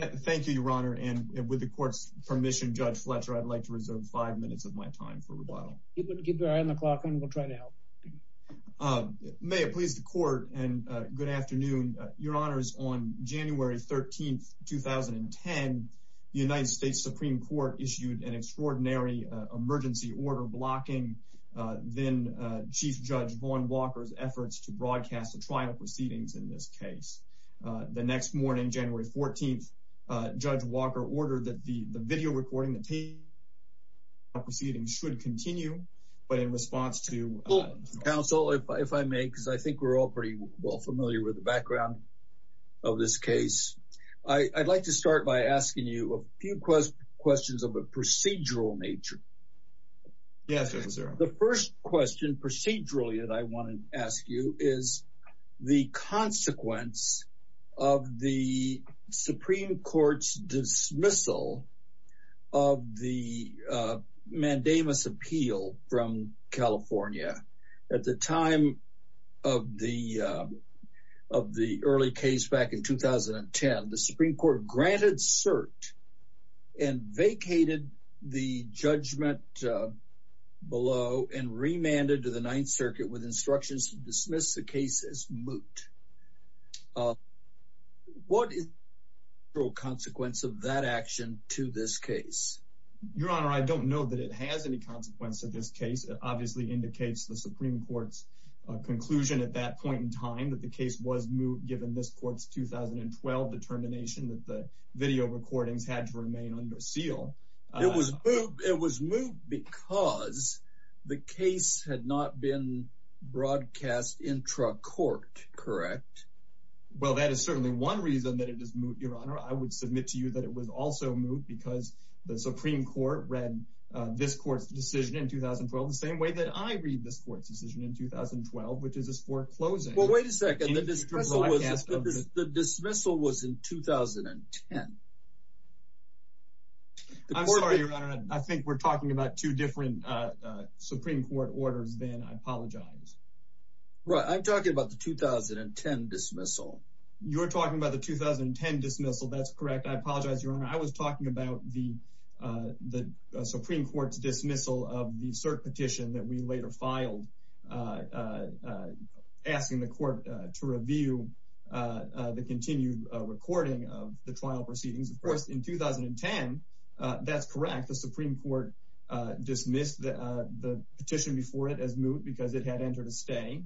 Thank you, Your Honor, and with the court's permission, Judge Fletcher, I'd like to reserve five minutes of my time for rebuttal. Keep your eye on the clock and we'll try to help. May it please the court and good afternoon. Your Honors, on January 13, 2010, the United States Supreme Court issued an extraordinary emergency order blocking then-Chief Judge Vaughn Walker's efforts to broadcast the trial proceedings in this case. The next morning, January 14, Judge Walker ordered that the video recording of the trial proceedings should continue, but in response to... Counsel, if I may, because I think we're all pretty well familiar with the background of this case, I'd like to start by asking you a few questions of a procedural nature. Yes, Judge Becerra. The first question procedurally that I want to ask you is the consequence of the Supreme Court's dismissal of the mandamus appeal from California. At the time of the early case back in 2010, the Supreme Court granted cert and vacated the judgment below and remanded to the Ninth Circuit with instructions to dismiss the case as moot. What is the actual consequence of that action to this case? Your Honor, I don't know that it has any consequence to this case. It obviously indicates the Supreme Court's conclusion at that point in time that the case was moot, given this court's 2012 determination that the video recordings had to remain under seal. It was moot because the case had not been broadcast intra-court, correct? Well, that is certainly one reason that it is moot, Your Honor. I would submit to you that it was also moot because the Supreme Court read this court's decision in 2012 the same way that I read this court's decision in 2012, which is its foreclosing. Wait a second. The dismissal was in 2010. I'm sorry, Your Honor. I think we're talking about two different Supreme Court orders then. I apologize. Right. I'm talking about the 2010 dismissal. You're talking about the 2010 dismissal. That's correct. I apologize, Your Honor. I was talking about the Supreme Court's dismissal of the cert petition that we later filed and asking the court to review the continued recording of the trial proceedings. Of course, in 2010, that's correct. The Supreme Court dismissed the petition before it as moot because it had entered a stay,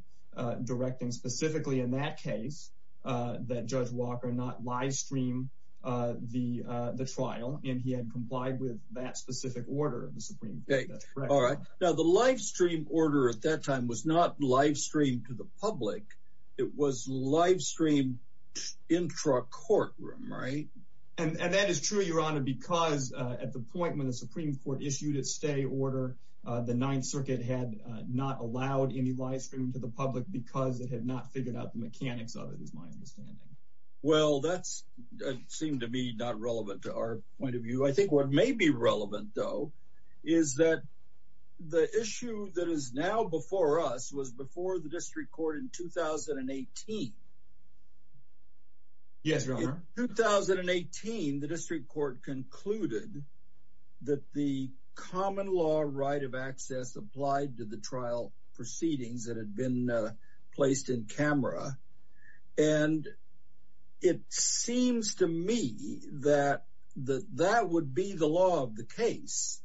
directing specifically in that case that Judge Walker not livestream the trial, and he had complied with that specific order of the Supreme Court. All right. Now, the livestream order at that time was not livestreamed to the public. It was livestreamed intra courtroom, right? And that is true, Your Honor, because at the point when the Supreme Court issued its stay order, the Ninth Circuit had not allowed any livestream to the public because it had not figured out the mechanics of it, is my understanding. Well, that seemed to be not relevant to our point of view. I think what may be relevant, though, is that the issue that is now before us was before the district court in 2018. Yes, Your Honor. In 2018, the district court concluded that the common law right of access applied to the trial proceedings that had been placed in camera, and it seems to me that that would be the law of the case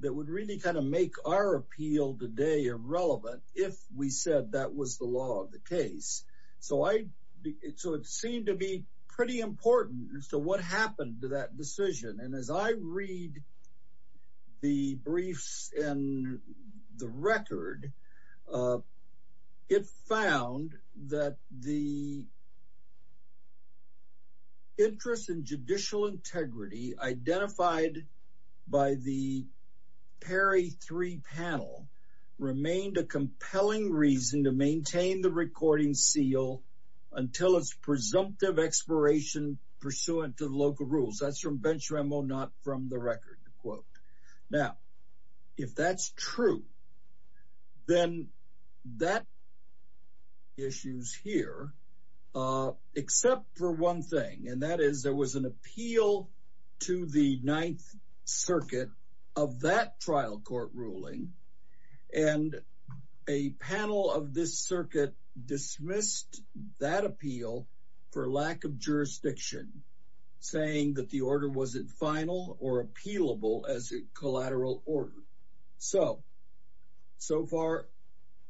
that would really kind of make our appeal today irrelevant if we said that was the law of the case. So it seemed to be pretty important as to what happened to that decision. And as I read the briefs and the record, it found that the interest in judicial integrity identified by the Perry three panel remained a compelling reason to maintain the recording seal until its presumptive expiration pursuant to the local rules. That's from bench memo, not from the record quote. Now, if that's true, then that issues here, except for one thing, and that is there was an appeal to the Ninth Circuit of that trial court ruling, and a panel of this circuit dismissed that appeal for lack of jurisdiction, saying that the order wasn't final or appealable as a collateral order. So, so far,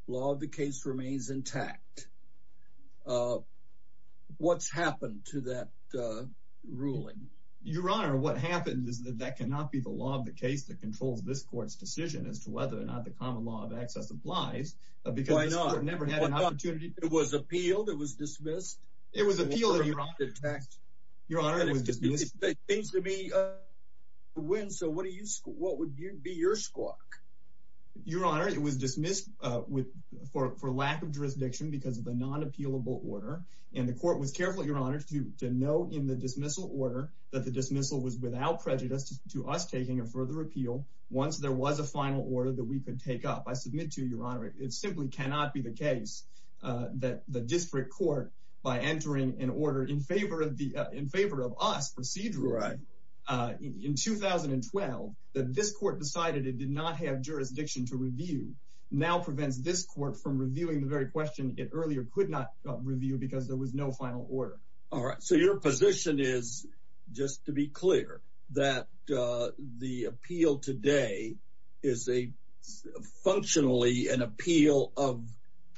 law of the case remains intact. Uh, what's happened to that ruling? Your Honor, what happened is that that cannot be the law of the case that controls this court's decision as to whether or not the common law of access applies, because I never had an opportunity. It was appealed. It was dismissed. It was appealed. Your Honor, it seems to me when so what do you what would be your squawk? Your Honor, it was dismissed with for lack of jurisdiction because of the non appealable order, and the court was careful. Your Honor to know in the dismissal order that the dismissal was without prejudice to us taking a further appeal. Once there was a final order that we could take up, I submit to your Honor, it simply cannot be the case that the district court by entering an order in favor of the in favor of us procedural right in 2012 that this court decided it did not have jurisdiction to review now prevents this court from reviewing the very question it earlier could not review because there was no final order. Alright, so your position is just to be clear that the appeal today is a functionally an appeal of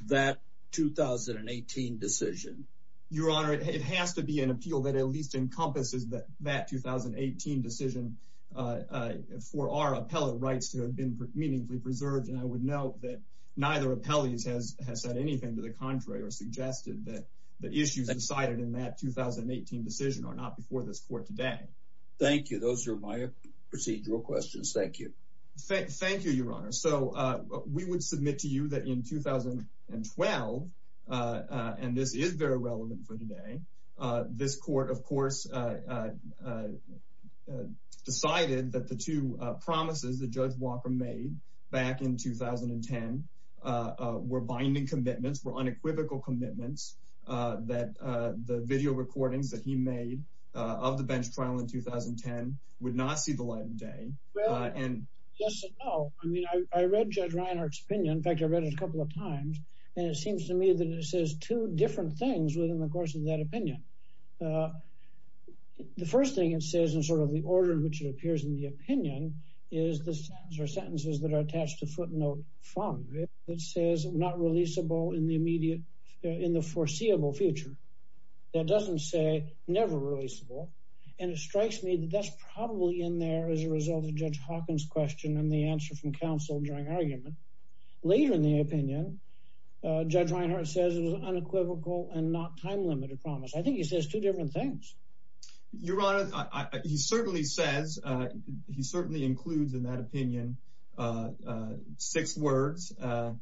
that 2018 decision. Your Honor, it has to be an appeal that at least encompasses that that 2018 decision for our appellate rights to have been meaningfully preserved. And I would note that neither appellees has has said anything to the contrary or suggested that the issues decided in that 2018 decision are not before this court today. Thank you. Those are my procedural questions. Thank you. Thank you, Your Honor. So we would submit to you that in 2012 and this is very relevant for today. This court, of course, decided that the two promises that Judge Walker made back in 2010 were binding commitments were unequivocal commitments that the video recordings that he made of the bench trial in 2010 would not see the light of day. And yes and no. I mean, I read Judge Reinhart's opinion. In fact, I read it a couple of times. And it seems to me that it says two different things within the course of that opinion. The first thing it says in sort of the order in which it appears in the opinion is the sentence or sentences that are attached to footnote from it. It says not releasable in the immediate in the foreseeable future. That doesn't say never releasable. And it strikes me that that's probably in there as a result of Judge Hawkins question and the answer from counsel during argument. Later in the opinion, Judge Reinhart says it was unequivocal and not time limited promise. I think he says two different things. Your Honor, he certainly says he certainly includes in that opinion six words and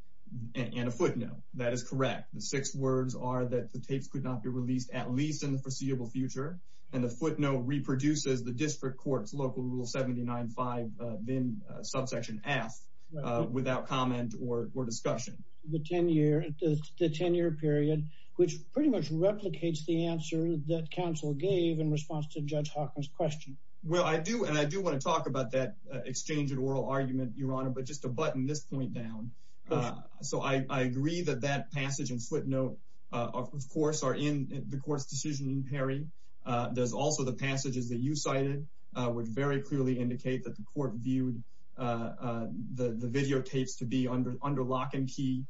a footnote. That is correct. The six words are that the tapes could not be released at least in the foreseeable future. And the footnote reproduces the district court's local rule seventy nine five then subsection F without comment or discussion. The 10 year the 10 year period, which pretty much replicates the answer that counsel gave in response to Judge Hawkins question. Well, I do and I do want to talk about that exchange and oral argument, Your Honor, but just a button this point down. So I agree that that passage and footnote, of course, are in the court's decision in Perry. There's also the passages that you cited would very clearly indicate that the court viewed the videotapes to be under under lock and key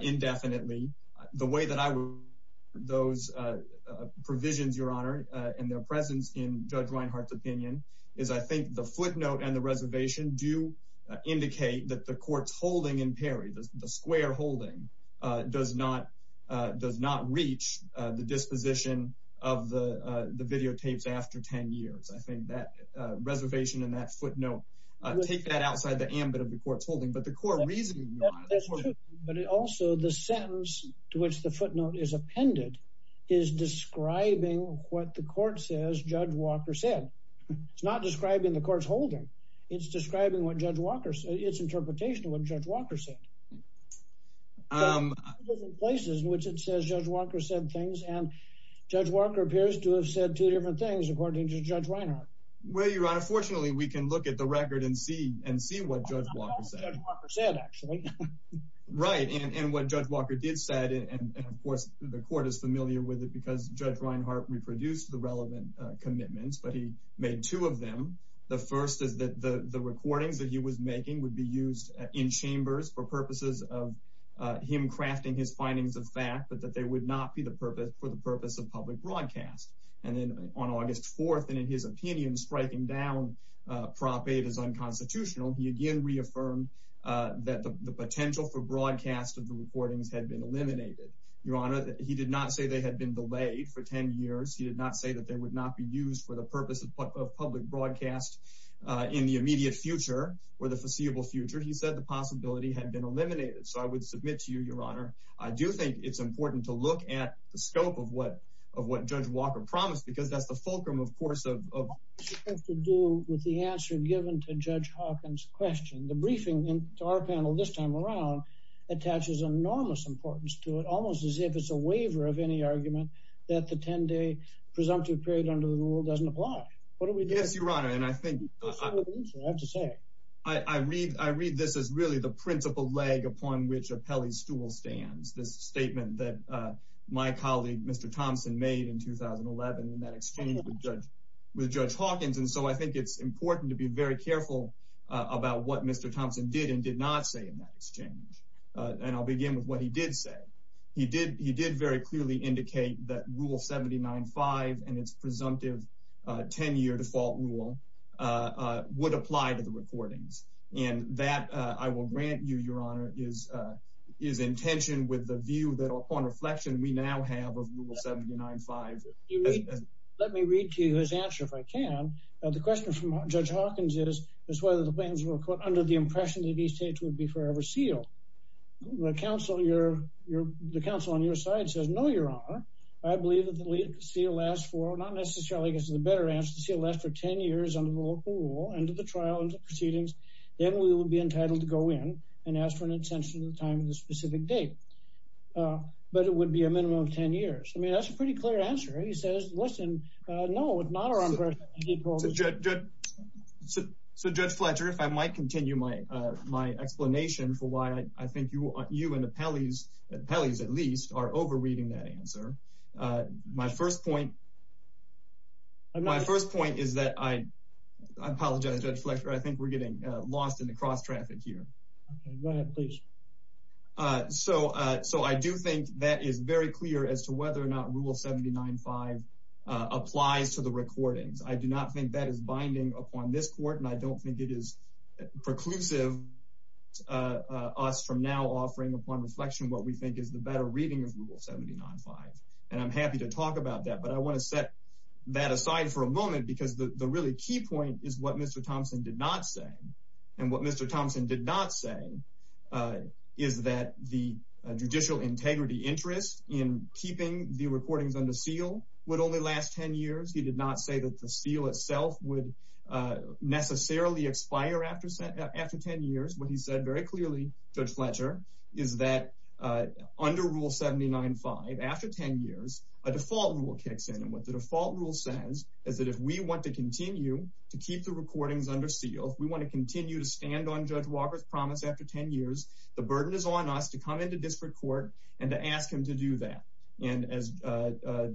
indefinitely. The way that I would those provisions, Your Honor, and their presence in Judge Reinhart's opinion is I think the footnote and the reservation do indicate that the court's holding in Perry, the square holding, does not does not reach the disposition of the videotapes after 10 years. I think that reservation and that footnote take that outside the ambit of the court's holding. But the court reasoning. But also the sentence to which the footnote is appended is describing what the court says Judge Walker said. It's not describing the court's holding. It's describing what Judge Walker said. It's interpretation of what Judge Walker said. Um, places in which it says Judge Walker said things and Judge Walker appears to have said two different things according to Judge Reinhart. Well, Your Honor, fortunately, we can look at the record and see and see what Judge Walker said, actually. Right. And what Judge Walker did said, and of course, the court is familiar with it because Judge Reinhart reproduced the relevant commitments, but he made two of them. The first is that the recordings that he was making would be used in chambers for purposes of him crafting his findings of fact, but that they would not be the purpose for the purpose of public broadcast. And then on August 4th, and in his opinion, striking down Prop 8 is unconstitutional. He again reaffirmed that the potential for broadcast of the recordings had been eliminated. Your Honor, he did not say they had been delayed for 10 years. He did not say that they would not be used for the purpose of public broadcast in the immediate future or the foreseeable future. He said the possibility had been eliminated. So I would submit to you, Your Honor, I do think it's important to look at the scope of what Judge Walker promised because that's the fulcrum, of course, of the answer given to Judge Hawkins question. The briefing to our panel this time around attaches enormous importance to it, as if it's a waiver of any argument that the 10-day presumptive period under the rule doesn't apply. What do we do? Yes, Your Honor, and I think I have to say, I read this as really the principal leg upon which a pelly stool stands. This statement that my colleague, Mr. Thompson, made in 2011 in that exchange with Judge Hawkins. And so I think it's important to be very careful about what Mr. Thompson did and did not say in that exchange. And I'll begin with what he did say. He did very clearly indicate that Rule 79-5 and its presumptive 10-year default rule would apply to the recordings. And that, I will grant you, Your Honor, is in tension with the view that upon reflection we now have of Rule 79-5. Let me read to you his answer, if I can. The question from Judge Hawkins is whether the plans were, quote, under the impression that seal. The counsel on your side says, no, Your Honor, I believe that the seal lasts for, not necessarily because of the better answer, the seal lasts for 10 years under the local rule, under the trial proceedings, then we will be entitled to go in and ask for an extension of the time of the specific date. But it would be a minimum of 10 years. I mean, that's a pretty clear answer. He says, listen, no, it's not our impression. So, Judge Fletcher, if I might continue my explanation for why I think you and the Peleys, the Peleys at least, are overreading that answer. My first point, my first point is that I apologize, Judge Fletcher, I think we're getting lost in the cross-traffic here. Okay, go ahead, please. So, I do think that is very clear as to whether or not Rule 79-5 applies to the recordings. I do not think that is binding upon this court, and I don't think it is preclusive, us from now offering upon reflection what we think is the better reading of Rule 79-5. And I'm happy to talk about that, but I want to set that aside for a moment because the really key point is what Mr. Thompson did not say. And what Mr. Thompson did not say is that the judicial integrity interest in keeping the necessarily expire after 10 years. What he said very clearly, Judge Fletcher, is that under Rule 79-5, after 10 years, a default rule kicks in. And what the default rule says is that if we want to continue to keep the recordings under seal, if we want to continue to stand on Judge Walker's promise after 10 years, the burden is on us to come into disparate court and to ask him to do that. And as Mr.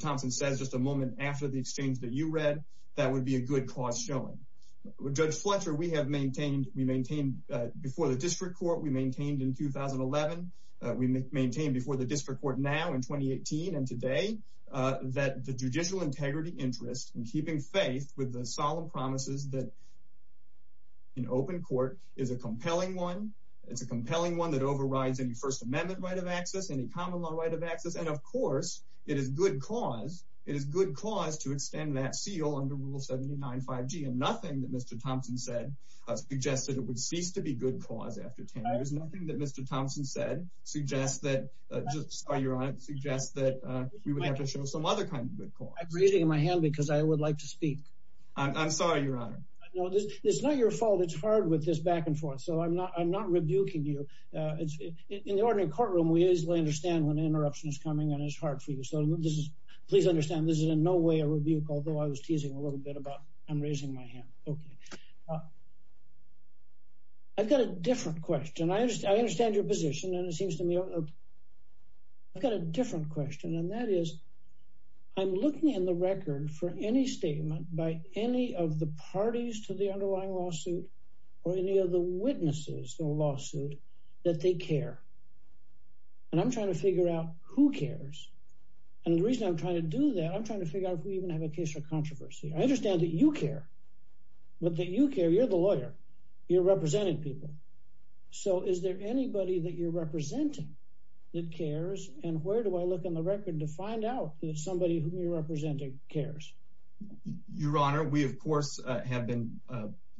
Thompson says just a moment after the exchange that you showed, Judge Fletcher, we have maintained, we maintained before the district court, we maintained in 2011, we maintained before the district court now in 2018 and today, that the judicial integrity interest in keeping faith with the solemn promises that in open court is a compelling one. It's a compelling one that overrides any First Amendment right of access, any common law right of access. And of course, it is good cause, it is good cause to extend that seal under Rule 79-5G. And nothing that Mr. Thompson said suggested it would cease to be good cause after 10 years. Nothing that Mr. Thompson said suggests that, just, Your Honor, suggests that we would have to show some other kind of good cause. I'm raising my hand because I would like to speak. I'm sorry, Your Honor. No, it's not your fault. It's hard with this back and forth. So I'm not rebuking you. In the ordinary courtroom, we easily understand when an interruption is coming and it's hard for this. Please understand, this is in no way a rebuke, although I was teasing a little bit about I'm raising my hand. Okay. I've got a different question. I understand your position and it seems to me, I've got a different question. And that is, I'm looking in the record for any statement by any of the parties to the underlying lawsuit, or any of the witnesses to a lawsuit that they care. And I'm trying to figure out who cares. And the reason I'm trying to do that, I'm trying to figure out if we even have a case for controversy. I understand that you care, but that you care, you're the lawyer, you're representing people. So is there anybody that you're representing that cares? And where do I look in the record to find out that somebody whom you're representing cares? Your Honor, we, of course, have been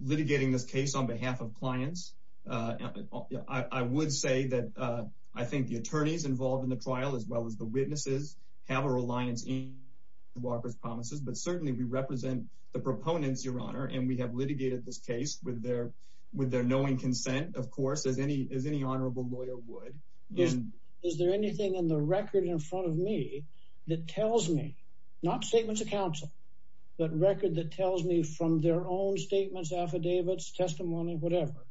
litigating this case on behalf of clients. I would say that I think the attorneys involved in the trial, as well as the witnesses, have a reliance in Walker's promises. But certainly we represent the proponents, Your Honor, and we have litigated this case with their knowing consent, of course, as any honorable lawyer would. Is there anything in the record in front of me that tells me, not statements of counsel, but record that tells me from their own statements, affidavits, testimony, whatever,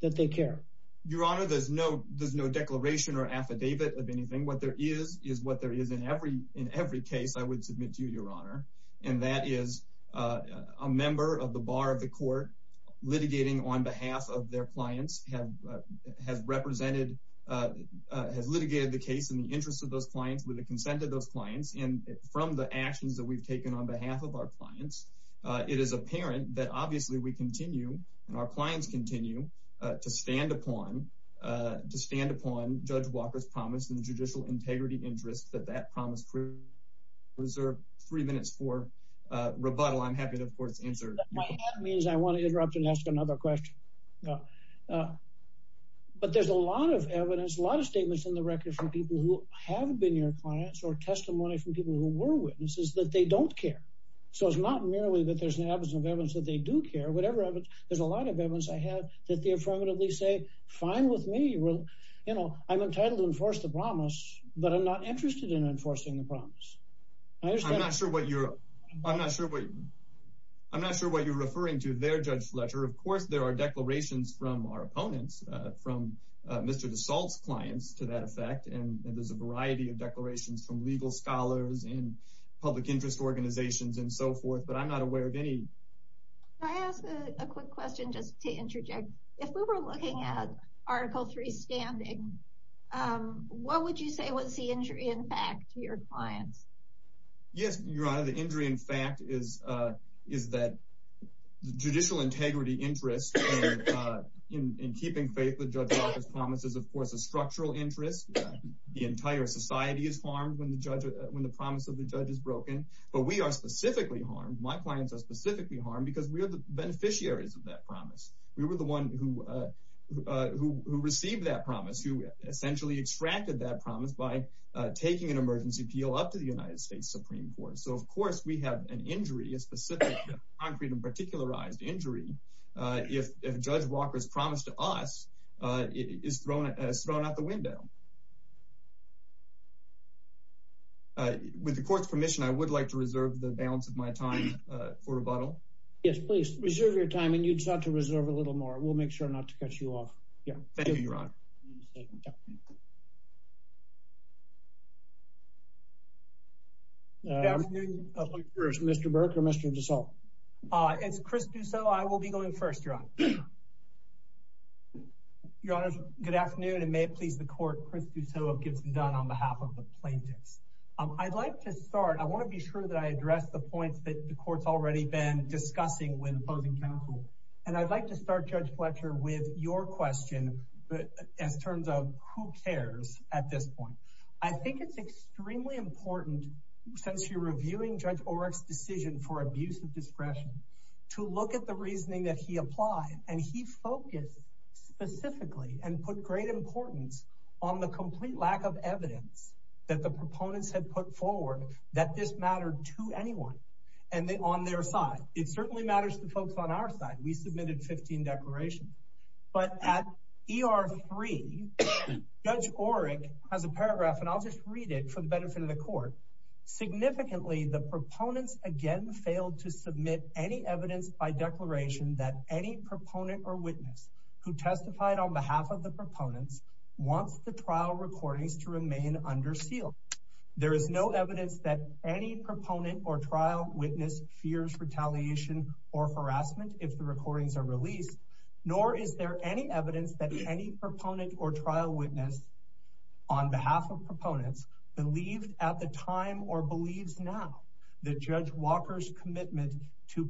that they care? Your Honor, there's no declaration or affidavit of anything. What there is, is what there is in every case, I would submit to you, Your Honor. And that is a member of the bar of the court litigating on behalf of their clients, has litigated the case in the interest of those clients, with the consent of those clients, and from the actions that we've and our clients continue to stand upon Judge Walker's promise in the judicial integrity interest that that promise was reserved three minutes for rebuttal, I'm happy to, of course, answer. That means I want to interrupt and ask another question. But there's a lot of evidence, a lot of statements in the record from people who have been your clients or testimony from people who were witnesses that they don't care. So it's not merely that there's an absence of evidence that they do care, whatever evidence, there's a lot of evidence I have that they affirmatively say, fine with me, you know, I'm entitled to enforce the promise, but I'm not interested in enforcing the promise. I'm not sure what you're, I'm not sure what, I'm not sure what you're referring to their Judge Fletcher. Of course, there are declarations from our opponents, from Mr. DeSalt's clients to that effect. And there's a variety of declarations from legal scholars and public interest organizations and so forth, but I'm not aware of any. Can I ask a quick question just to interject? If we were looking at Article 3 standing, what would you say was the injury in fact to your clients? Yes, Your Honor, the injury in fact is that the judicial integrity interest in keeping faith with Judge Walker's promise is, of course, a structural interest. The entire society is harmed when the promise of the judge is broken, but we are specifically harmed. My clients are specifically harmed because we are the beneficiaries of that promise. We were the one who received that promise, who essentially extracted that promise by taking an emergency appeal up to the United States Supreme Court. So of course, we have an injury, a specific concrete and particularized injury, if Judge Walker's promise to us is thrown out the window. With the court's permission, I would like to reserve the balance of my time for rebuttal. Yes, please reserve your time, and you just have to reserve a little more. We'll make sure not to cut you off. Thank you, Your Honor. Mr. Burke or Mr. DeSalt? It's Chris Dusso. I will be going first, Your Honor. Your Honor, good afternoon, and may it please the court, Chris Dusso gets it done on behalf of the plaintiffs. I'd like to start, I want to be sure that I address the points that the court's already been discussing with opposing counsel, and I'd like to start, Judge Fletcher, with your question as terms of who cares at this point. I think it's extremely important, since you're reviewing Judge Oreck's decision for abuse of discretion, to look at the reasoning that he focused specifically and put great importance on the complete lack of evidence that the proponents had put forward that this mattered to anyone on their side. It certainly matters to folks on our side. We submitted 15 declarations, but at ER 3, Judge Oreck has a paragraph, and I'll just read it for the benefit of the court. Significantly, the proponents again who testified on behalf of the proponents wants the trial recordings to remain under seal. There is no evidence that any proponent or trial witness fears retaliation or harassment if the recordings are released, nor is there any evidence that any proponent or trial witness on behalf of proponents believed at the time or believes now that Judge Walker's commitment to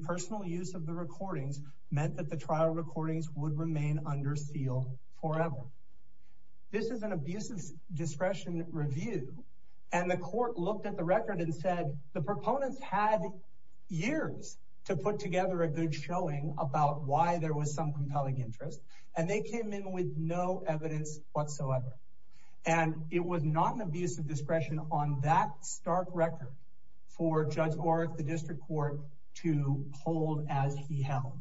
trial recordings would remain under seal forever. This is an abuse of discretion review, and the court looked at the record and said the proponents had years to put together a good showing about why there was some compelling interest, and they came in with no evidence whatsoever. And it was not an abuse of discretion on that stark record for Judge Oreck, the district court, to hold as he held.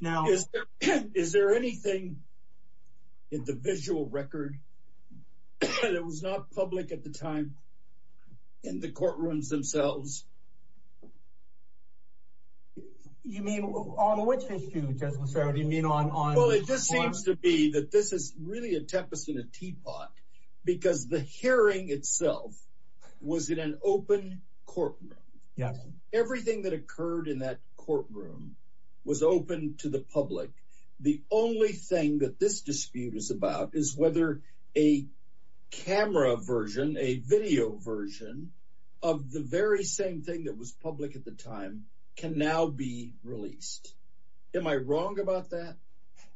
Now, is there anything in the visual record that was not public at the time in the courtrooms themselves? You mean on which issue, Judge Massaro? Do you mean on... Well, it just seems to be that this is really a tempest in a teapot because the hearing itself was in an open courtroom. Everything that occurred in that courtroom was open to the public. The only thing that this dispute is about is whether a camera version, a video version, of the very same thing that was public at the time can now be released. Am I wrong about that?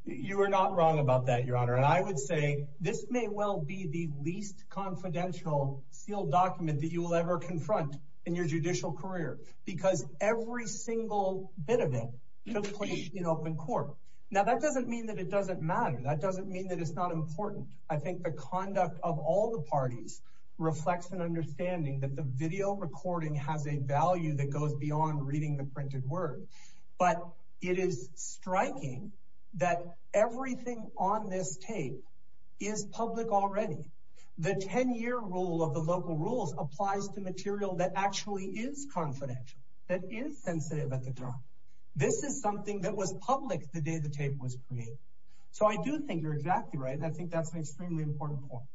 You are not wrong about that, Your Honor. And I would say this may well be the least confidential sealed document that you will ever confront in your judicial career because every single bit of it took place in open court. Now, that doesn't mean that it doesn't matter. That doesn't mean that it's not important. I think the conduct of all the parties reflects an understanding that the video recording has a value that goes beyond reading the printed word. But it is striking that everything on this tape is public already. The 10-year rule of the local rules applies to material that actually is confidential, that is sensitive at the time. This is something that was public the day the tape was created. So I do think you're exactly right. I think that's an extremely important point.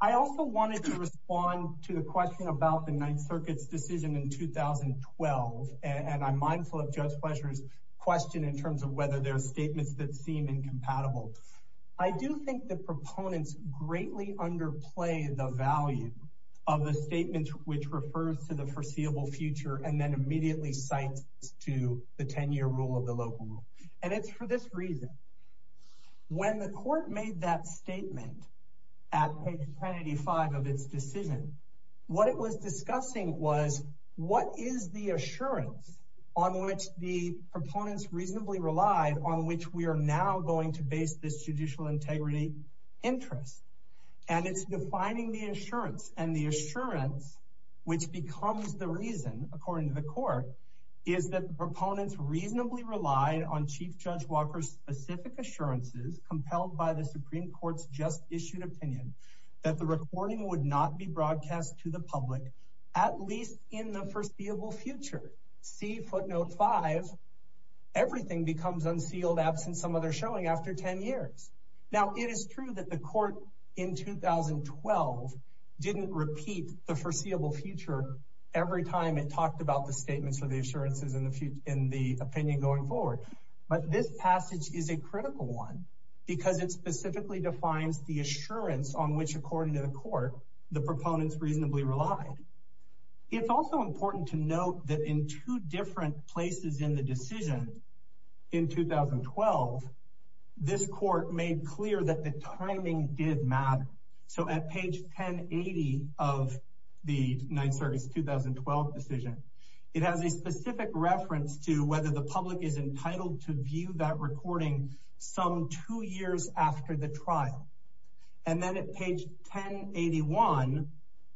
I also wanted to respond to the question about the Ninth Circuit's decision in 2012. And I'm mindful of Judge Fletcher's question in terms of whether there are statements that seem incompatible. I do think the proponents greatly underplay the value of the statement which refers to the foreseeable future and then immediately cites to the 10-year rule of the local rule. And it's for this reason, when the court made that statement at page 185 of its decision, what it was discussing was what is the assurance on which the proponents reasonably relied on which we are now going to base this judicial integrity interest. And it's defining the assurance. And the assurance, which becomes the reason, according to the court, is that the proponents reasonably relied on Chief Judge Walker's specific assurances, compelled by the Supreme Court's just-issued opinion, that the recording would not be broadcast to the public at least in the foreseeable future. See footnote 5. Everything becomes unsealed absent some other showing after 10 years. Now, it is true that the court in 2012 didn't repeat the foreseeable future every time it This passage is a critical one because it specifically defines the assurance on which, according to the court, the proponents reasonably relied. It's also important to note that in two different places in the decision in 2012, this court made clear that the timing did matter. So at page 1080 of the 9th Circuit's 2012 decision, it has a specific reference to whether the public is entitled to view that recording some two years after the trial. And then at page 1081,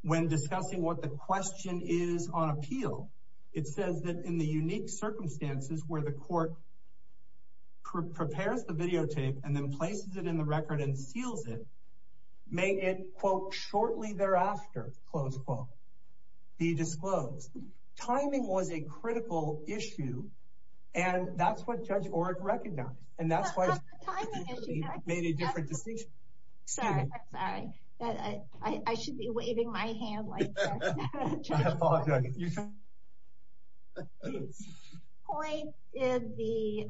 when discussing what the question is on appeal, it says that in the unique circumstances where the court prepares the videotape and then places it in the record and seals it, may it, quote, shortly thereafter, close quote, be disclosed. Timing was a critical issue. And that's what Judge Orrick recognized. And that's why he made a different decision. Sorry, sorry. I should be waving my hand like that. Point is the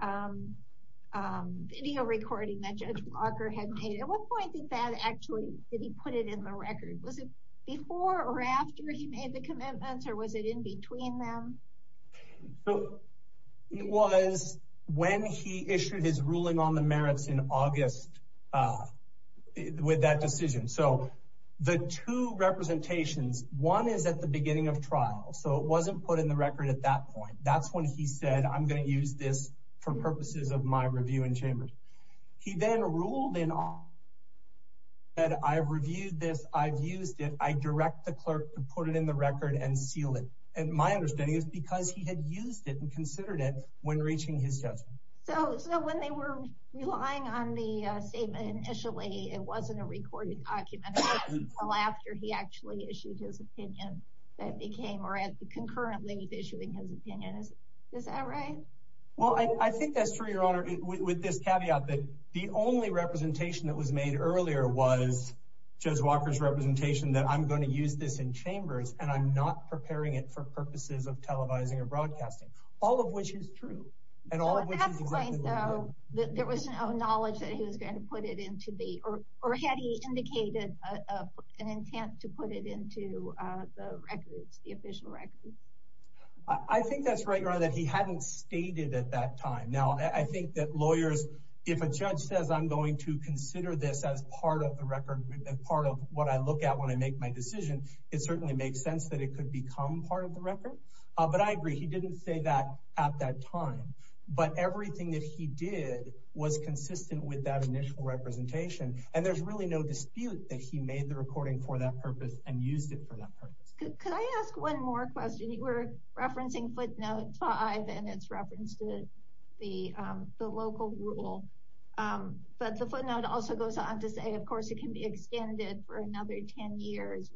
video recording that Judge Walker had made. At what point did that actually did he put it in the record? Was it before or after he made the commitments? Or was it in between them? It was when he issued his ruling on the merits in August with that decision. So the two representations, one is at the beginning of trial. So it wasn't put in the record at that point. That's when he said, I'm going to use this for purposes of my review in chambers. He then ruled in on that. I've reviewed this. I've used it. I direct the clerk to put it in the record and seal it. And my understanding is because he had used it and considered it when reaching his judgment. So when they were relying on the statement initially, it wasn't a recorded document until after he actually issued his opinion that became concurrently issuing his opinion. Is that right? Well, I think that's true, Your Honor, with this caveat that the only representation that was made earlier was Judge Walker's representation that I'm not preparing it for purposes of televising and broadcasting, all of which is true. There was no knowledge that he was going to put it into the, or had he indicated an intent to put it into the records, the official records? I think that's right, Your Honor, that he hadn't stated at that time. Now, I think that lawyers, if a judge says, I'm going to consider this as part of the record and part of what I look at when I make my decision, it certainly makes sense that it could become part of the record. But I agree, he didn't say that at that time. But everything that he did was consistent with that initial representation. And there's really no dispute that he made the recording for that purpose and used it for that purpose. Could I ask one more question? You were referencing footnote five, and it's referenced the local rule. But the footnote also goes on to say, of course, it can be extended for another 10 years.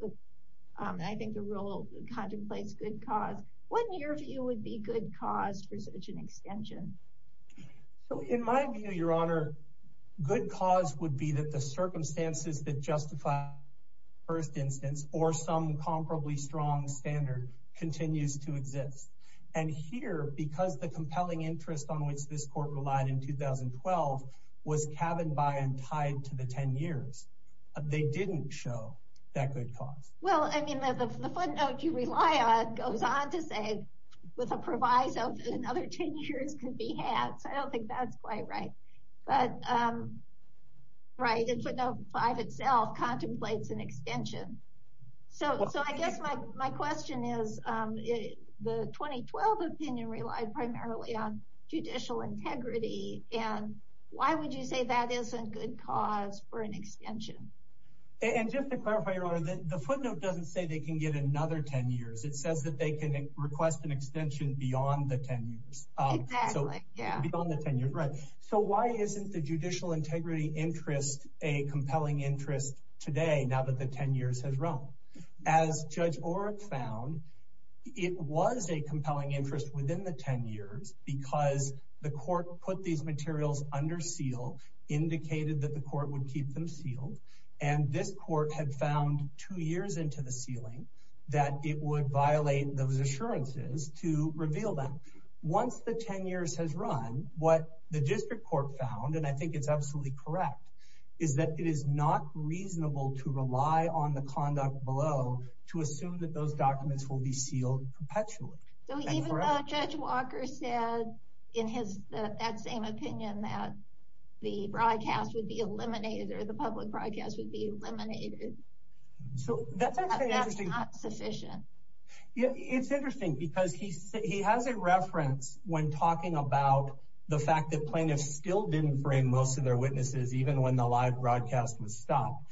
I think the rule contemplates good cause. What, in your view, would be good cause for such an extension? So in my view, Your Honor, good cause would be that the circumstances that justify first instance or some comparably strong standard continues to exist. And here, because the compelling interest on which this court relied in 2012 was cabin by and tied to the 10 years, they didn't show that good cause. Well, I mean, the footnote you rely on goes on to say, with a proviso, another 10 years could be had. So I don't think that's quite right. But right, footnote five itself contemplates an extension. So I guess my question is, the 2012 opinion relied primarily on judicial integrity. And why would you say that isn't good cause for an extension? And just to clarify, Your Honor, the footnote doesn't say they can get another 10 years. It says that they can request an extension beyond the 10 years. So why isn't the judicial integrity interest a compelling interest today now that the 10 years has run? As Judge Oreck found, it was a compelling interest within the 10 years because the court put these materials under seal, indicated that the court would keep them sealed. And this court had found two years into the sealing that it would violate those assurances to reveal them. Once the 10 years has run, what the district court found, and I think it's absolutely correct, is that it is not reasonable to rely on the conduct below to assume that those documents will be sealed perpetually. So even though Judge Walker said in his that same opinion that the broadcast would be eliminated or the public broadcast would be eliminated, that's not sufficient. It's interesting because he has a reference when talking about the fact that plaintiffs still didn't frame most of their witnesses, even when the live broadcast was stopped.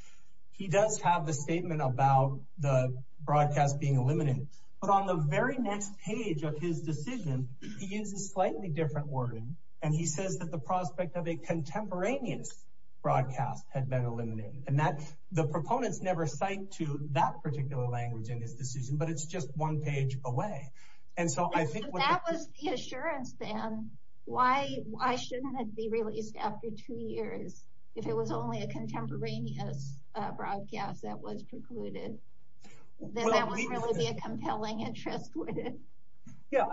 He does have the statement about the broadcast being eliminated. But on the very next page of his decision, he uses slightly different wording, and he says that the prospect of a contemporaneous broadcast had been eliminated. And the proponents never cite to that particular language in his decision, but it's just one page away. And so I think... That was the assurance then. Why shouldn't it be released after two years if it was only a contemporaneous broadcast that was precluded? Then that wouldn't really be a compelling interest, would it? Yeah.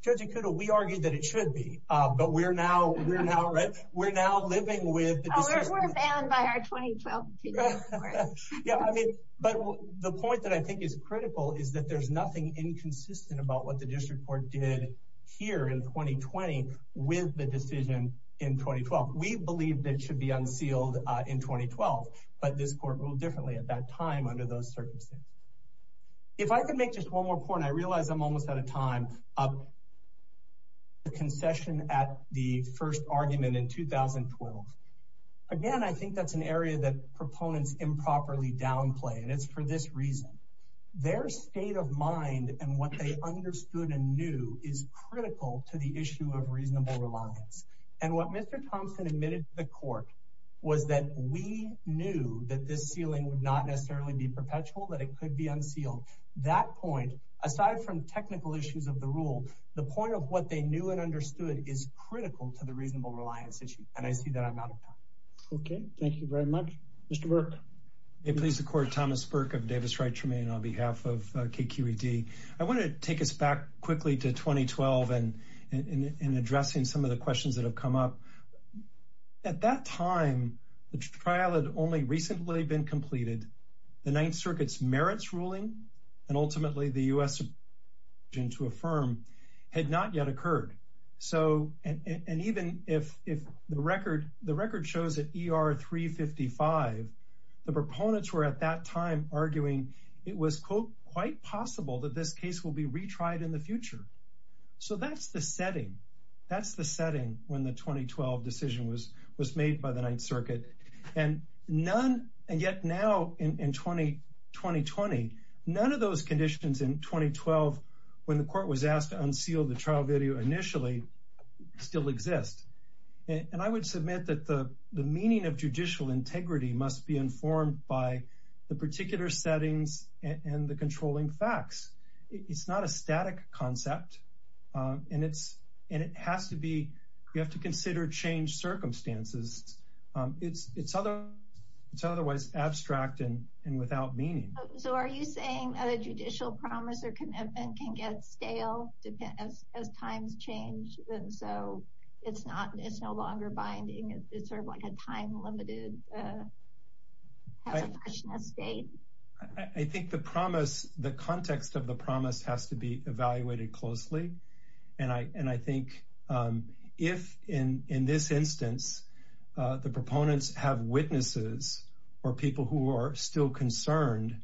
Judge Ikuto, we argued that it should be, but we're now living with... Oh, we're banned by our 2012 decision. Yeah. But the point that I think is critical is that there's nothing inconsistent about what the district court did here in 2020 with the decision in 2012. We believe that it should be unsealed in 2012, but this court ruled differently at that time under those circumstances. If I could make just one more point, I realize I'm almost out of time. The concession at the first argument in 2012, again, I think that's an area that state of mind and what they understood and knew is critical to the issue of reasonable reliance. And what Mr. Thompson admitted to the court was that we knew that this sealing would not necessarily be perpetual, that it could be unsealed. That point, aside from technical issues of the rule, the point of what they knew and understood is critical to the reasonable reliance issue. And I see that I'm out of time. Okay. Thank you very much. Mr. Burke. May it please the court, Thomas Burke of Davis Wright Tremaine on behalf of KQED. I want to take us back quickly to 2012 and addressing some of the questions that have come up. At that time, the trial had only recently been completed. The Ninth Circuit's merits ruling and ultimately the U.S. decision to affirm had not yet occurred. And even if the record shows that ER 355, the proponents were at that time arguing it was quite possible that this case will be retried in the future. So that's the setting. That's the setting when the 2012 decision was made by the Ninth Circuit. And yet now in 2020, none of those conditions in 2012 when the court was asked to unseal the trial video initially still exist. And I would submit that the meaning of judicial integrity must be informed by the particular settings and the controlling facts. It's not a static concept. And it has to be, you have to consider changed circumstances. It's otherwise abstract and without meaning. So are you saying a judicial promise or sort of like a time limited state? I think the promise, the context of the promise has to be evaluated closely. And I think if in this instance, the proponents have witnesses or people who are still concerned,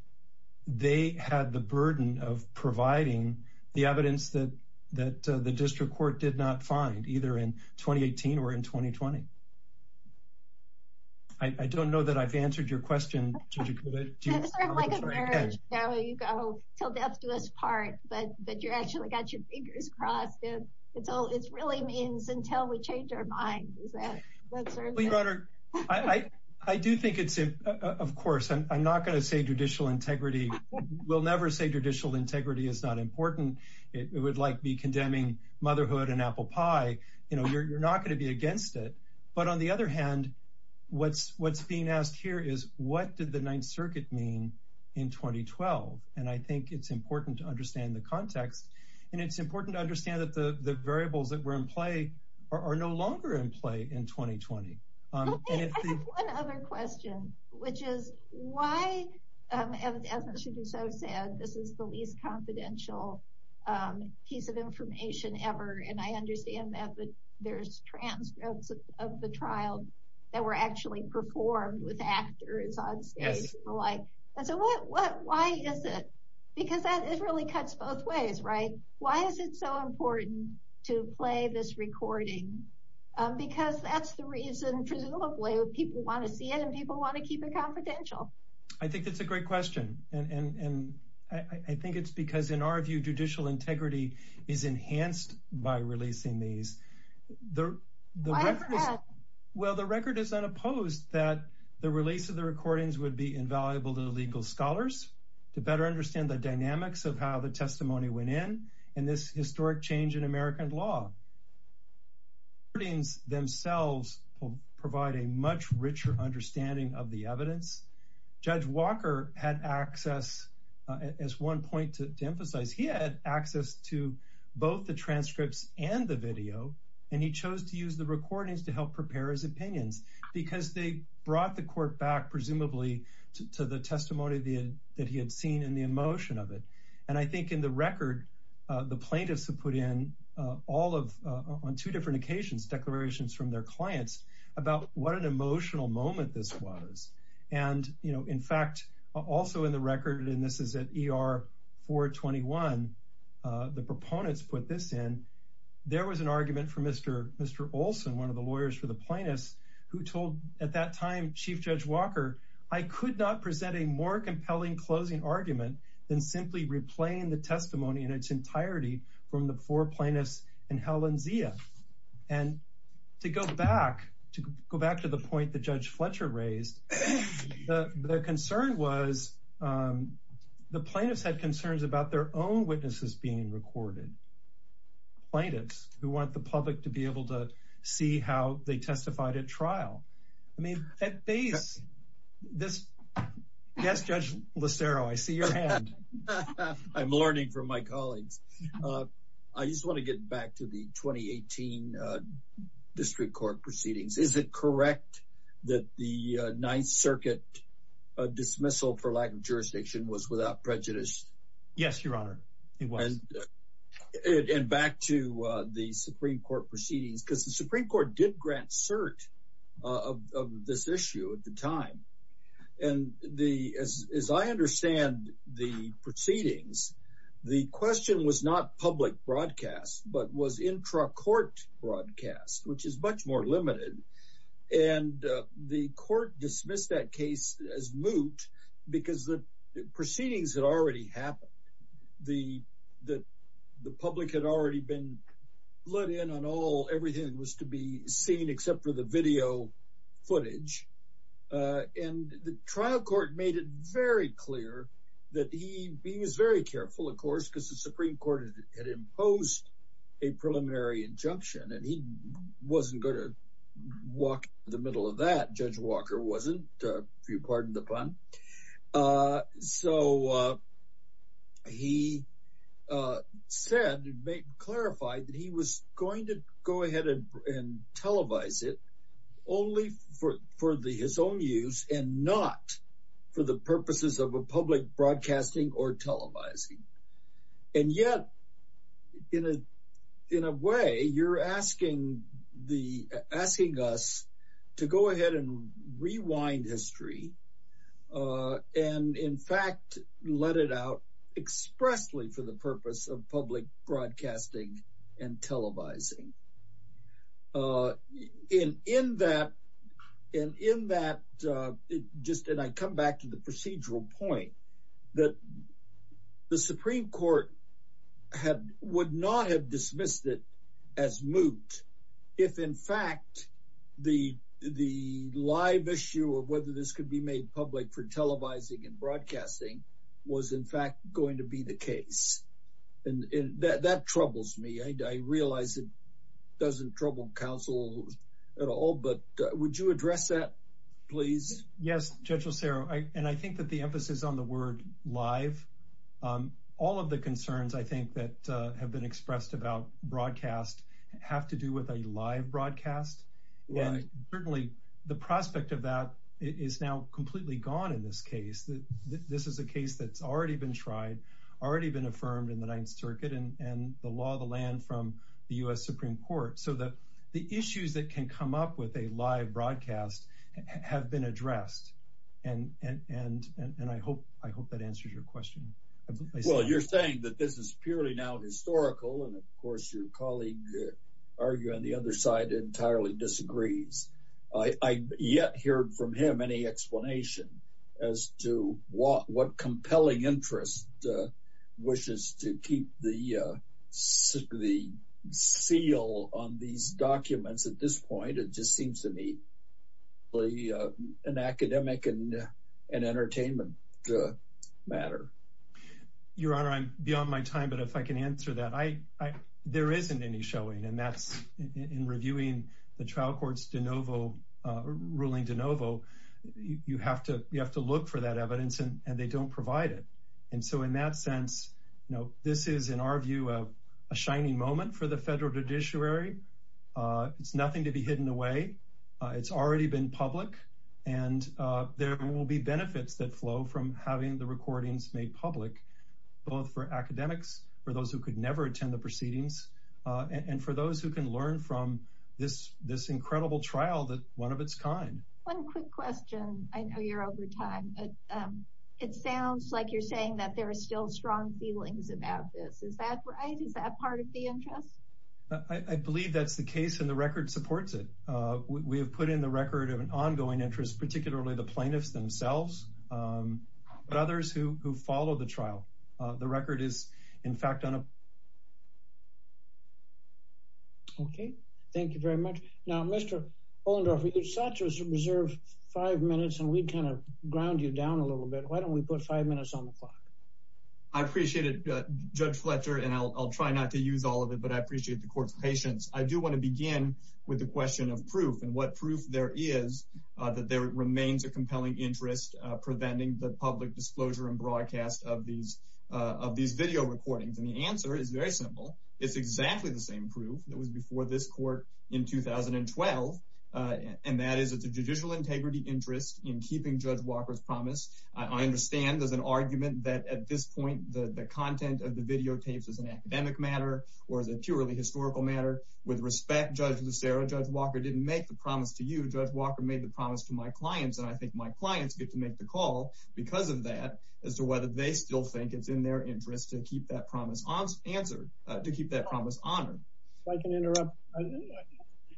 they had the burden of providing the evidence that the district court did not find either in 2018 or in 2020. I don't know that I've answered your question. It's sort of like a marriage. You go till death do us part, but you actually got your fingers crossed. It's all, it's really means until we change our mind. Is that, that sort of thing? Well, Your Honor, I do think it's, of course, I'm not going to say judicial integrity. We'll never say judicial integrity is not important. It would like be condemning motherhood and apple pie. You're not going to be against it. But on the other hand, what's being asked here is what did the ninth circuit mean in 2012? And I think it's important to understand the context. And it's important to understand that the variables that were in play are no longer in play in 2020. I have one other question, which is why, and as Mr. DeSoto said, this is the least confidential piece of information ever. And I understand that, but there's transcripts of the trial that were actually performed with actors on stage and the like. And so what, why is it? Because that really cuts both ways, right? Why is it so important to play this recording? Because that's the reason, presumably, people want to see it and people want to keep it confidential. I think that's a great question. And I think it's because in our view, judicial integrity is enhanced by releasing these. Well, the record is unopposed that the release of the recordings would be invaluable to the legal scholars to better understand the dynamics of how the testimony went in and this historic change in American law. The recordings themselves provide a much richer understanding of the evidence. Judge Walker had access, as one point to emphasize, he had access to both the transcripts and the video, and he chose to use the recordings to help prepare his opinions because they brought the court back, presumably, to the testimony that he had seen and the emotion of it. And I think in the record, the plaintiffs have put in all of, on two different occasions, declarations from their clients about what an emotional moment this was. And, you know, in fact, also in the record, and this is at ER 421, the proponents put this in, there was an argument for Mr. Olson, one of the lawyers for the plaintiffs, who told at that time, Chief Judge Walker, I could not present a more compelling closing argument than simply replaying the testimony in its entirety from the four plaintiffs in Helen Zia. And to go back, to go back to the point that Judge Fletcher raised, the concern was, the plaintiffs had concerns about their own witnesses being recorded, plaintiffs who want the public to be able to see how they testified at trial. I mean, at base, this, yes, Judge Listero, I see your hand. I'm learning from my colleagues. I just want to get back to the 2018 District Court proceedings. Is it correct that the Ninth Circuit dismissal for lack of jurisdiction was without prejudice? Yes, Your Honor, it was. And back to the Supreme Court proceedings, because the Supreme Court did grant cert of this issue at the time. And as I understand the proceedings, the question was not public broadcast, but was intra-court broadcast, which is much more limited. And the court dismissed that case as moot, because the proceedings had already happened. The public had already been let in on everything that was to be seen, except for the video footage. And the trial court made it very clear that he was very careful, of course, because the Supreme Court had imposed a preliminary injunction, and he wasn't going to walk in the middle of that. Judge Walker wasn't, if you go ahead and televise it, only for his own use, and not for the purposes of a public broadcasting or televising. And yet, in a way, you're asking us to go ahead and rewind history, and in fact, let it out expressly for the purpose of public broadcasting and televising. And in that, just and I come back to the procedural point, that the Supreme Court had would not have dismissed it as moot, if in fact, the live issue of whether this could be made public for televising and broadcasting was in fact going to be the case. And that troubles me, I realize it doesn't trouble counsel at all, but would you address that, please? Yes, Judge Lucero, and I think that the emphasis on the word live, all of the concerns, I think, that have been expressed about broadcast have to do with a live broadcast. And certainly, the prospect of that is now completely gone in this case. This is a case that's already been tried, already been affirmed in the Ninth Circuit and the law of the land from the US Supreme Court, so that the issues that can come up with a live broadcast have been addressed. And I hope that answers your question. Well, you're saying that this is purely now historical, and of course, your colleague argue on the other side entirely disagrees. I yet heard from him any explanation as to what compelling interest wishes to keep the seal on these documents at this point, it just seems to me an academic and entertainment matter. Your Honor, I'm beyond my time. But if I can answer that, there isn't any showing and that's in reviewing the trial courts de novo, ruling de novo, you have to look for that evidence and they don't provide it. And so in that sense, this is, in our view, a shining moment for the federal judiciary. It's nothing to be hidden away. It's already been public. And there will be benefits that flow from having the recordings made public, both for academics, for those who could never attend the proceedings. And for those who can learn from this incredible trial that one of its kind. One quick question. I know you're over time. It sounds like you're saying that there are still strong feelings about this. Is that right? Is that part of the interest? I believe that's the case and the record supports it. We have put in the record of an ongoing interest, particularly the trial. Okay. Thank you very much. Now, Mr. Ohlendorf, you're set to reserve five minutes and we kind of ground you down a little bit. Why don't we put five minutes on the clock? I appreciate it, Judge Fletcher, and I'll try not to use all of it, but I appreciate the court's patience. I do want to begin with the question of proof and what proof there is that there remains a compelling interest preventing the public disclosure and broadcast of these video recordings. And the answer is very simple. It's exactly the same proof that was before this court in 2012. And that is it's a judicial integrity interest in keeping Judge Walker's promise. I understand there's an argument that at this point, the content of the videotapes is an academic matter or is it purely historical matter? With respect, Judge Lucero, Judge Walker didn't make the promise to you. Judge Walker made the promise to my clients. And I think my clients get to make the call because of that as to whether they still think it's in their interest to keep that promise answered, to keep that promise honored. If I can interrupt,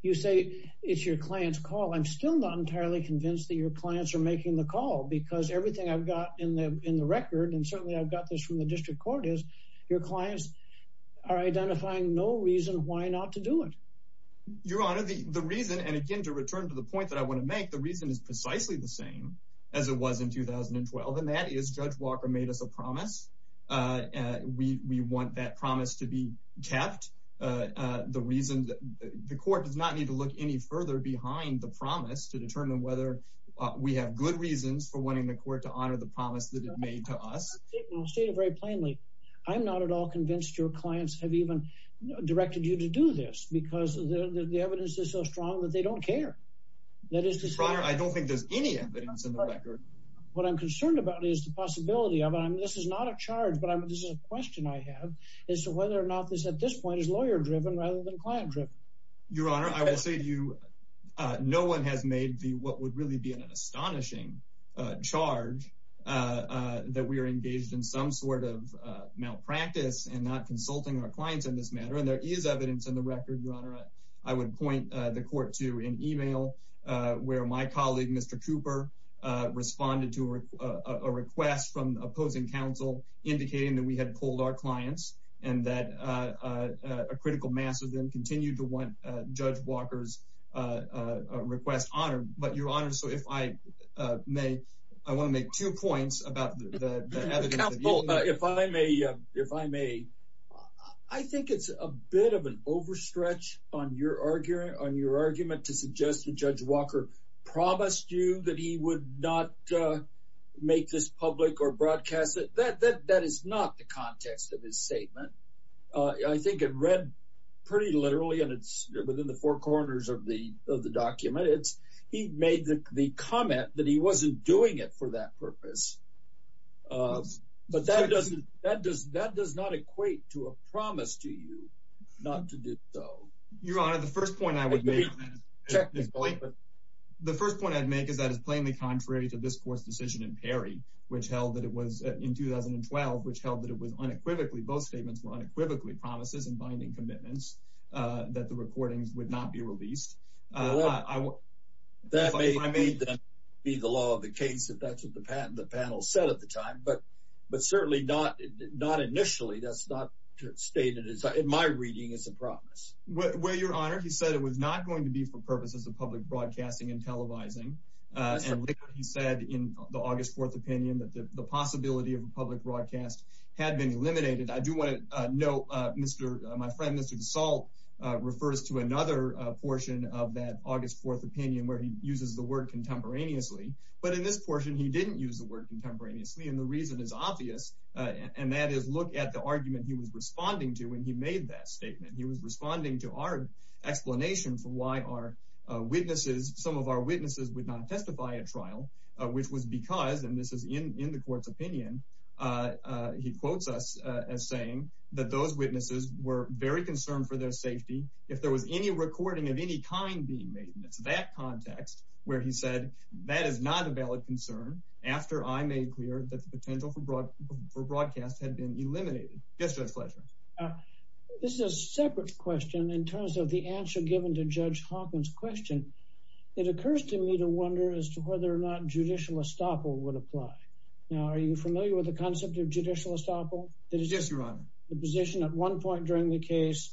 you say it's your client's call. I'm still not entirely convinced that your clients are making the call because everything I've got in the record, and certainly I've got this from the district court, is your clients are identifying no reason why not to do it. Your Honor, the reason, and again, return to the point that I want to make, the reason is precisely the same as it was in 2012. And that is Judge Walker made us a promise. We want that promise to be kept. The reason, the court does not need to look any further behind the promise to determine whether we have good reasons for wanting the court to honor the promise that it made to us. I'll state it very plainly. I'm not at all convinced your clients have even directed you to do this because the evidence is so strong that they don't care. Your Honor, I don't think there's any evidence in the record. What I'm concerned about is the possibility of, and this is not a charge, but this is a question I have, is whether or not this at this point is lawyer-driven rather than client-driven. Your Honor, I will say to you, no one has made what would really be an astonishing charge that we are engaged in some sort of malpractice and not consulting our clients in this matter. And there is evidence in the record, Your Honor. I would point the court to an email where my colleague, Mr. Cooper, responded to a request from opposing counsel indicating that we had pulled our clients and that a critical mass of them continued to want Judge Walker's request honored. But Your Honor, so if I may, I want to make two points about the I think it's a bit of an overstretch on your argument to suggest that Judge Walker promised you that he would not make this public or broadcast it. That is not the context of his statement. I think it read pretty literally, and it's within the four corners of the document, he made the comment that he wasn't doing it for that purpose. But that does not equate to a promise to you not to do so. Your Honor, the first point I would make is that is plainly contrary to this court's decision in Perry, which held that it was in 2012, which held that it was unequivocally, both statements were unequivocally promises and binding commitments that the recordings would not be released. Well, that may be the law of the case, if that's what the panel said at the time, but certainly not initially. That's not stated in my reading as a promise. Well, Your Honor, he said it was not going to be for purposes of public broadcasting and televising. And he said in the August 4th opinion that the possibility of a public broadcast had been eliminated. I do want to note, my friend, Mr. DeSalle refers to another portion of that August 4th opinion where he uses the word contemporaneously. But in this portion, he didn't use the word contemporaneously. And the reason is obvious, and that is look at the argument he was responding to when he made that statement. He was responding to our explanation for why our witnesses, some of our witnesses would not testify at trial, which was because, and this is in the court's opinion, he quotes us as saying that those being made in that context where he said that is not a valid concern after I made clear that the potential for broadcast had been eliminated. Yes, Judge Fletcher. This is a separate question in terms of the answer given to Judge Hawkins' question. It occurs to me to wonder as to whether or not judicial estoppel would apply. Now, are you familiar with the concept of judicial estoppel? Yes, Your Honor. The position at one point during the case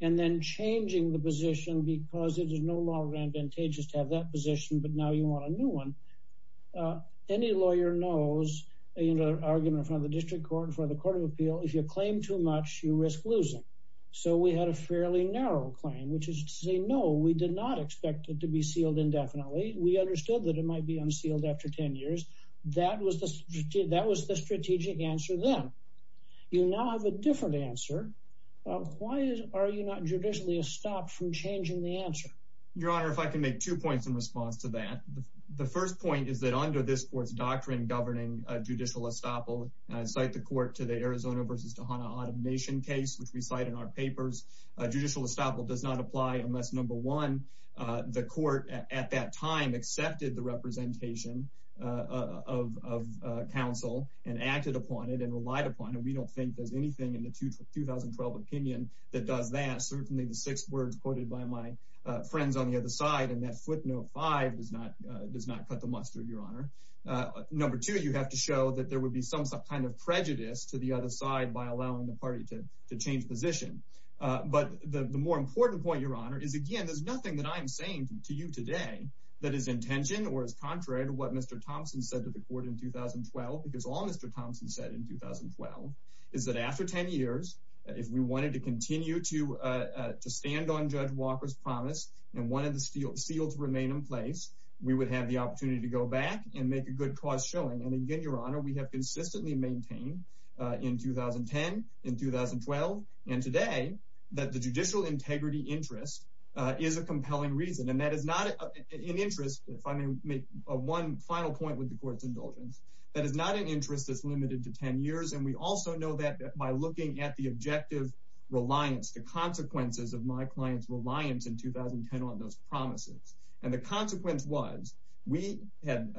and then changing the position because it is no longer advantageous to have that position, but now you want a new one. Any lawyer knows in an argument in front of the district court, in front of the court of appeal, if you claim too much, you risk losing. So we had a fairly narrow claim, which is to say, no, we did not expect it to be sealed indefinitely. We understood that it might be unsealed after 10 years. That was the strategic answer then. You now have a different answer. Why are you not judicially estopped from changing the answer? Your Honor, if I can make two points in response to that. The first point is that under this court's doctrine governing judicial estoppel, I cite the court to the Arizona v. Tejada automation case, which we cite in our papers. Judicial estoppel does not apply unless number one, the court at that time accepted the representation of counsel and acted upon it and relied upon it. We don't think there's anything in the 2012 opinion that does that. Certainly the six words quoted by my friends on the other side and that footnote five does not cut the mustard, Your Honor. Number two, you have to show that there would be some kind of prejudice to the other side by allowing the party to change position. But the more important point, Your Honor, is again, there's nothing that I'm saying to you today that is intention or is because all Mr. Thompson said in 2012 is that after 10 years, if we wanted to continue to stand on Judge Walker's promise and one of the steel seals remain in place, we would have the opportunity to go back and make a good cause showing. And again, Your Honor, we have consistently maintained in 2010, in 2012 and today that the judicial integrity interest is a compelling reason. And that is not an interest. If I may make one final point with the court's indulgence. That is not an interest that's limited to 10 years. And we also know that by looking at the objective reliance, the consequences of my client's reliance in 2010 on those promises. And the consequence was we had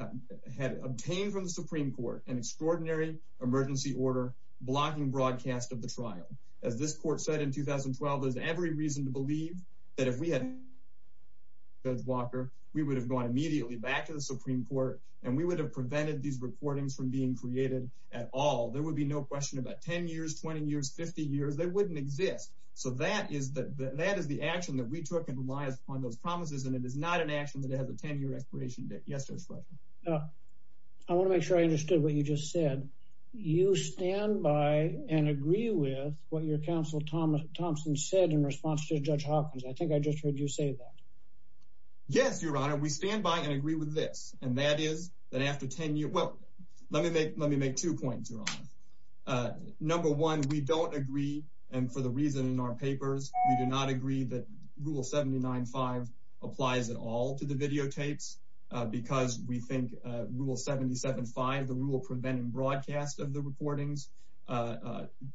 obtained from the Supreme Court an extraordinary emergency order blocking broadcast of the trial. As this court said in 2012, there's every reason to believe that if we had Judge Walker, we would have gone immediately back to the Supreme Court and we would have prevented these recordings from being created at all. There would be no question about 10 years, 20 years, 50 years, they wouldn't exist. So that is that that is the action that we took and reliance on those promises. And it is not an action that has a 10 year expiration date. I want to make sure I understood what you just said. You stand by and agree with what your counsel Thomas Thompson said in response to Judge Hawkins. I think I just heard you say that. Yes, Your Honor, we stand by and agree with this. And that is that after 10 years, well, let me make let me make two points, Your Honor. Number one, we don't agree. And for the reason in our papers, we do not agree that Rule 79.5 applies at all to the videotapes. Because we think Rule 77.5, the rule preventing broadcast of the recordings,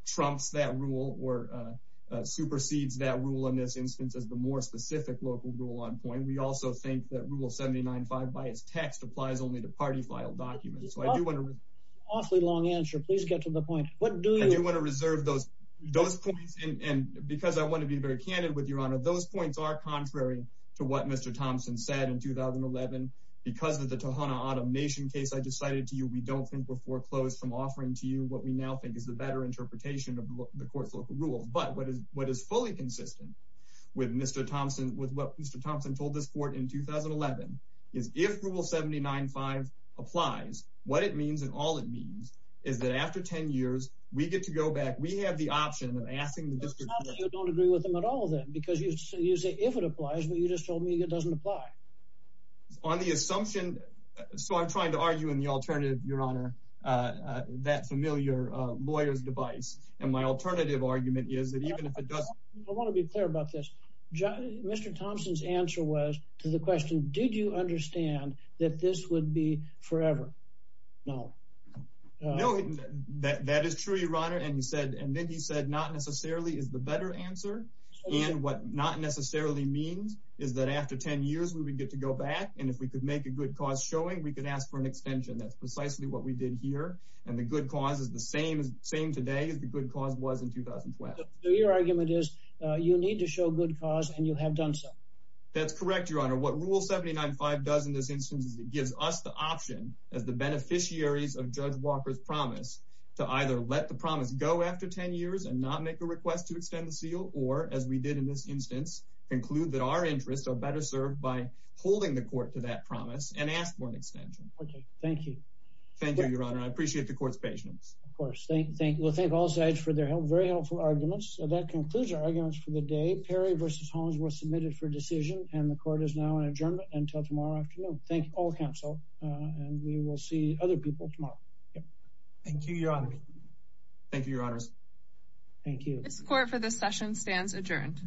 trumps that rule or supersedes that rule in this instance as the more specific local rule on point. We also think that Rule 79.5 by its text applies only to party file documents. So I do want to awfully long answer, please get to the point. What do you want to reserve those, those points? And because I want to be very candid with your honor, those points are contrary to what Mr. Thompson said in 2011. Because of the Tohono O'odham Nation case, I decided to you we don't think we're foreclosed from offering to you what we now think is the better interpretation of the court's local rules. But what is what is fully consistent with Mr. Thompson with what Mr. Thompson told this court in 2011, is if Rule 79.5 applies, what it means and all it means is that after 10 years, we get to go back, we have the option of asking the district you don't agree with them at all, then because you say if it applies, but you just told me it doesn't apply on the assumption. So I'm trying to argue in the alternative, Your Honor, that familiar lawyers device. And my alternative argument is that even if it does, I want to be clear about this. Mr. Thompson's answer was to the question, did you understand that this would be forever? No, no, that is true, Your Honor. And he said, and then he said, not necessarily is the better answer. And what not necessarily means is that after 10 years, we would get to go back. And if we could make a good cause showing we could ask for an extension. That's precisely what we did here. And the good cause is the same as same today as the good cause was in 2012. Your argument is you need to show good cause and you have done so. That's correct, Your Honor. What Rule 79.5 does in this instance is it gives us the option as the beneficiaries of Judge Walker's promise to either let the promise go after 10 years and not make a request to extend the seal. Or as we did in this instance, conclude that our interests are better served by holding the court to that promise and ask for an extension. Okay. Thank you. Thank you, Your Honor. I appreciate the court's patience. Of course. Thank you. Thank you. Thank all sides for their help. Very helpful arguments. That concludes our arguments for the day. Perry versus Holmes were submitted for decision and the court is now in adjournment until tomorrow afternoon. Thank all counsel. And we will see other people tomorrow. Thank you, Your Honor. Thank you, Your Honors. Thank you. This court for this session stands adjourned.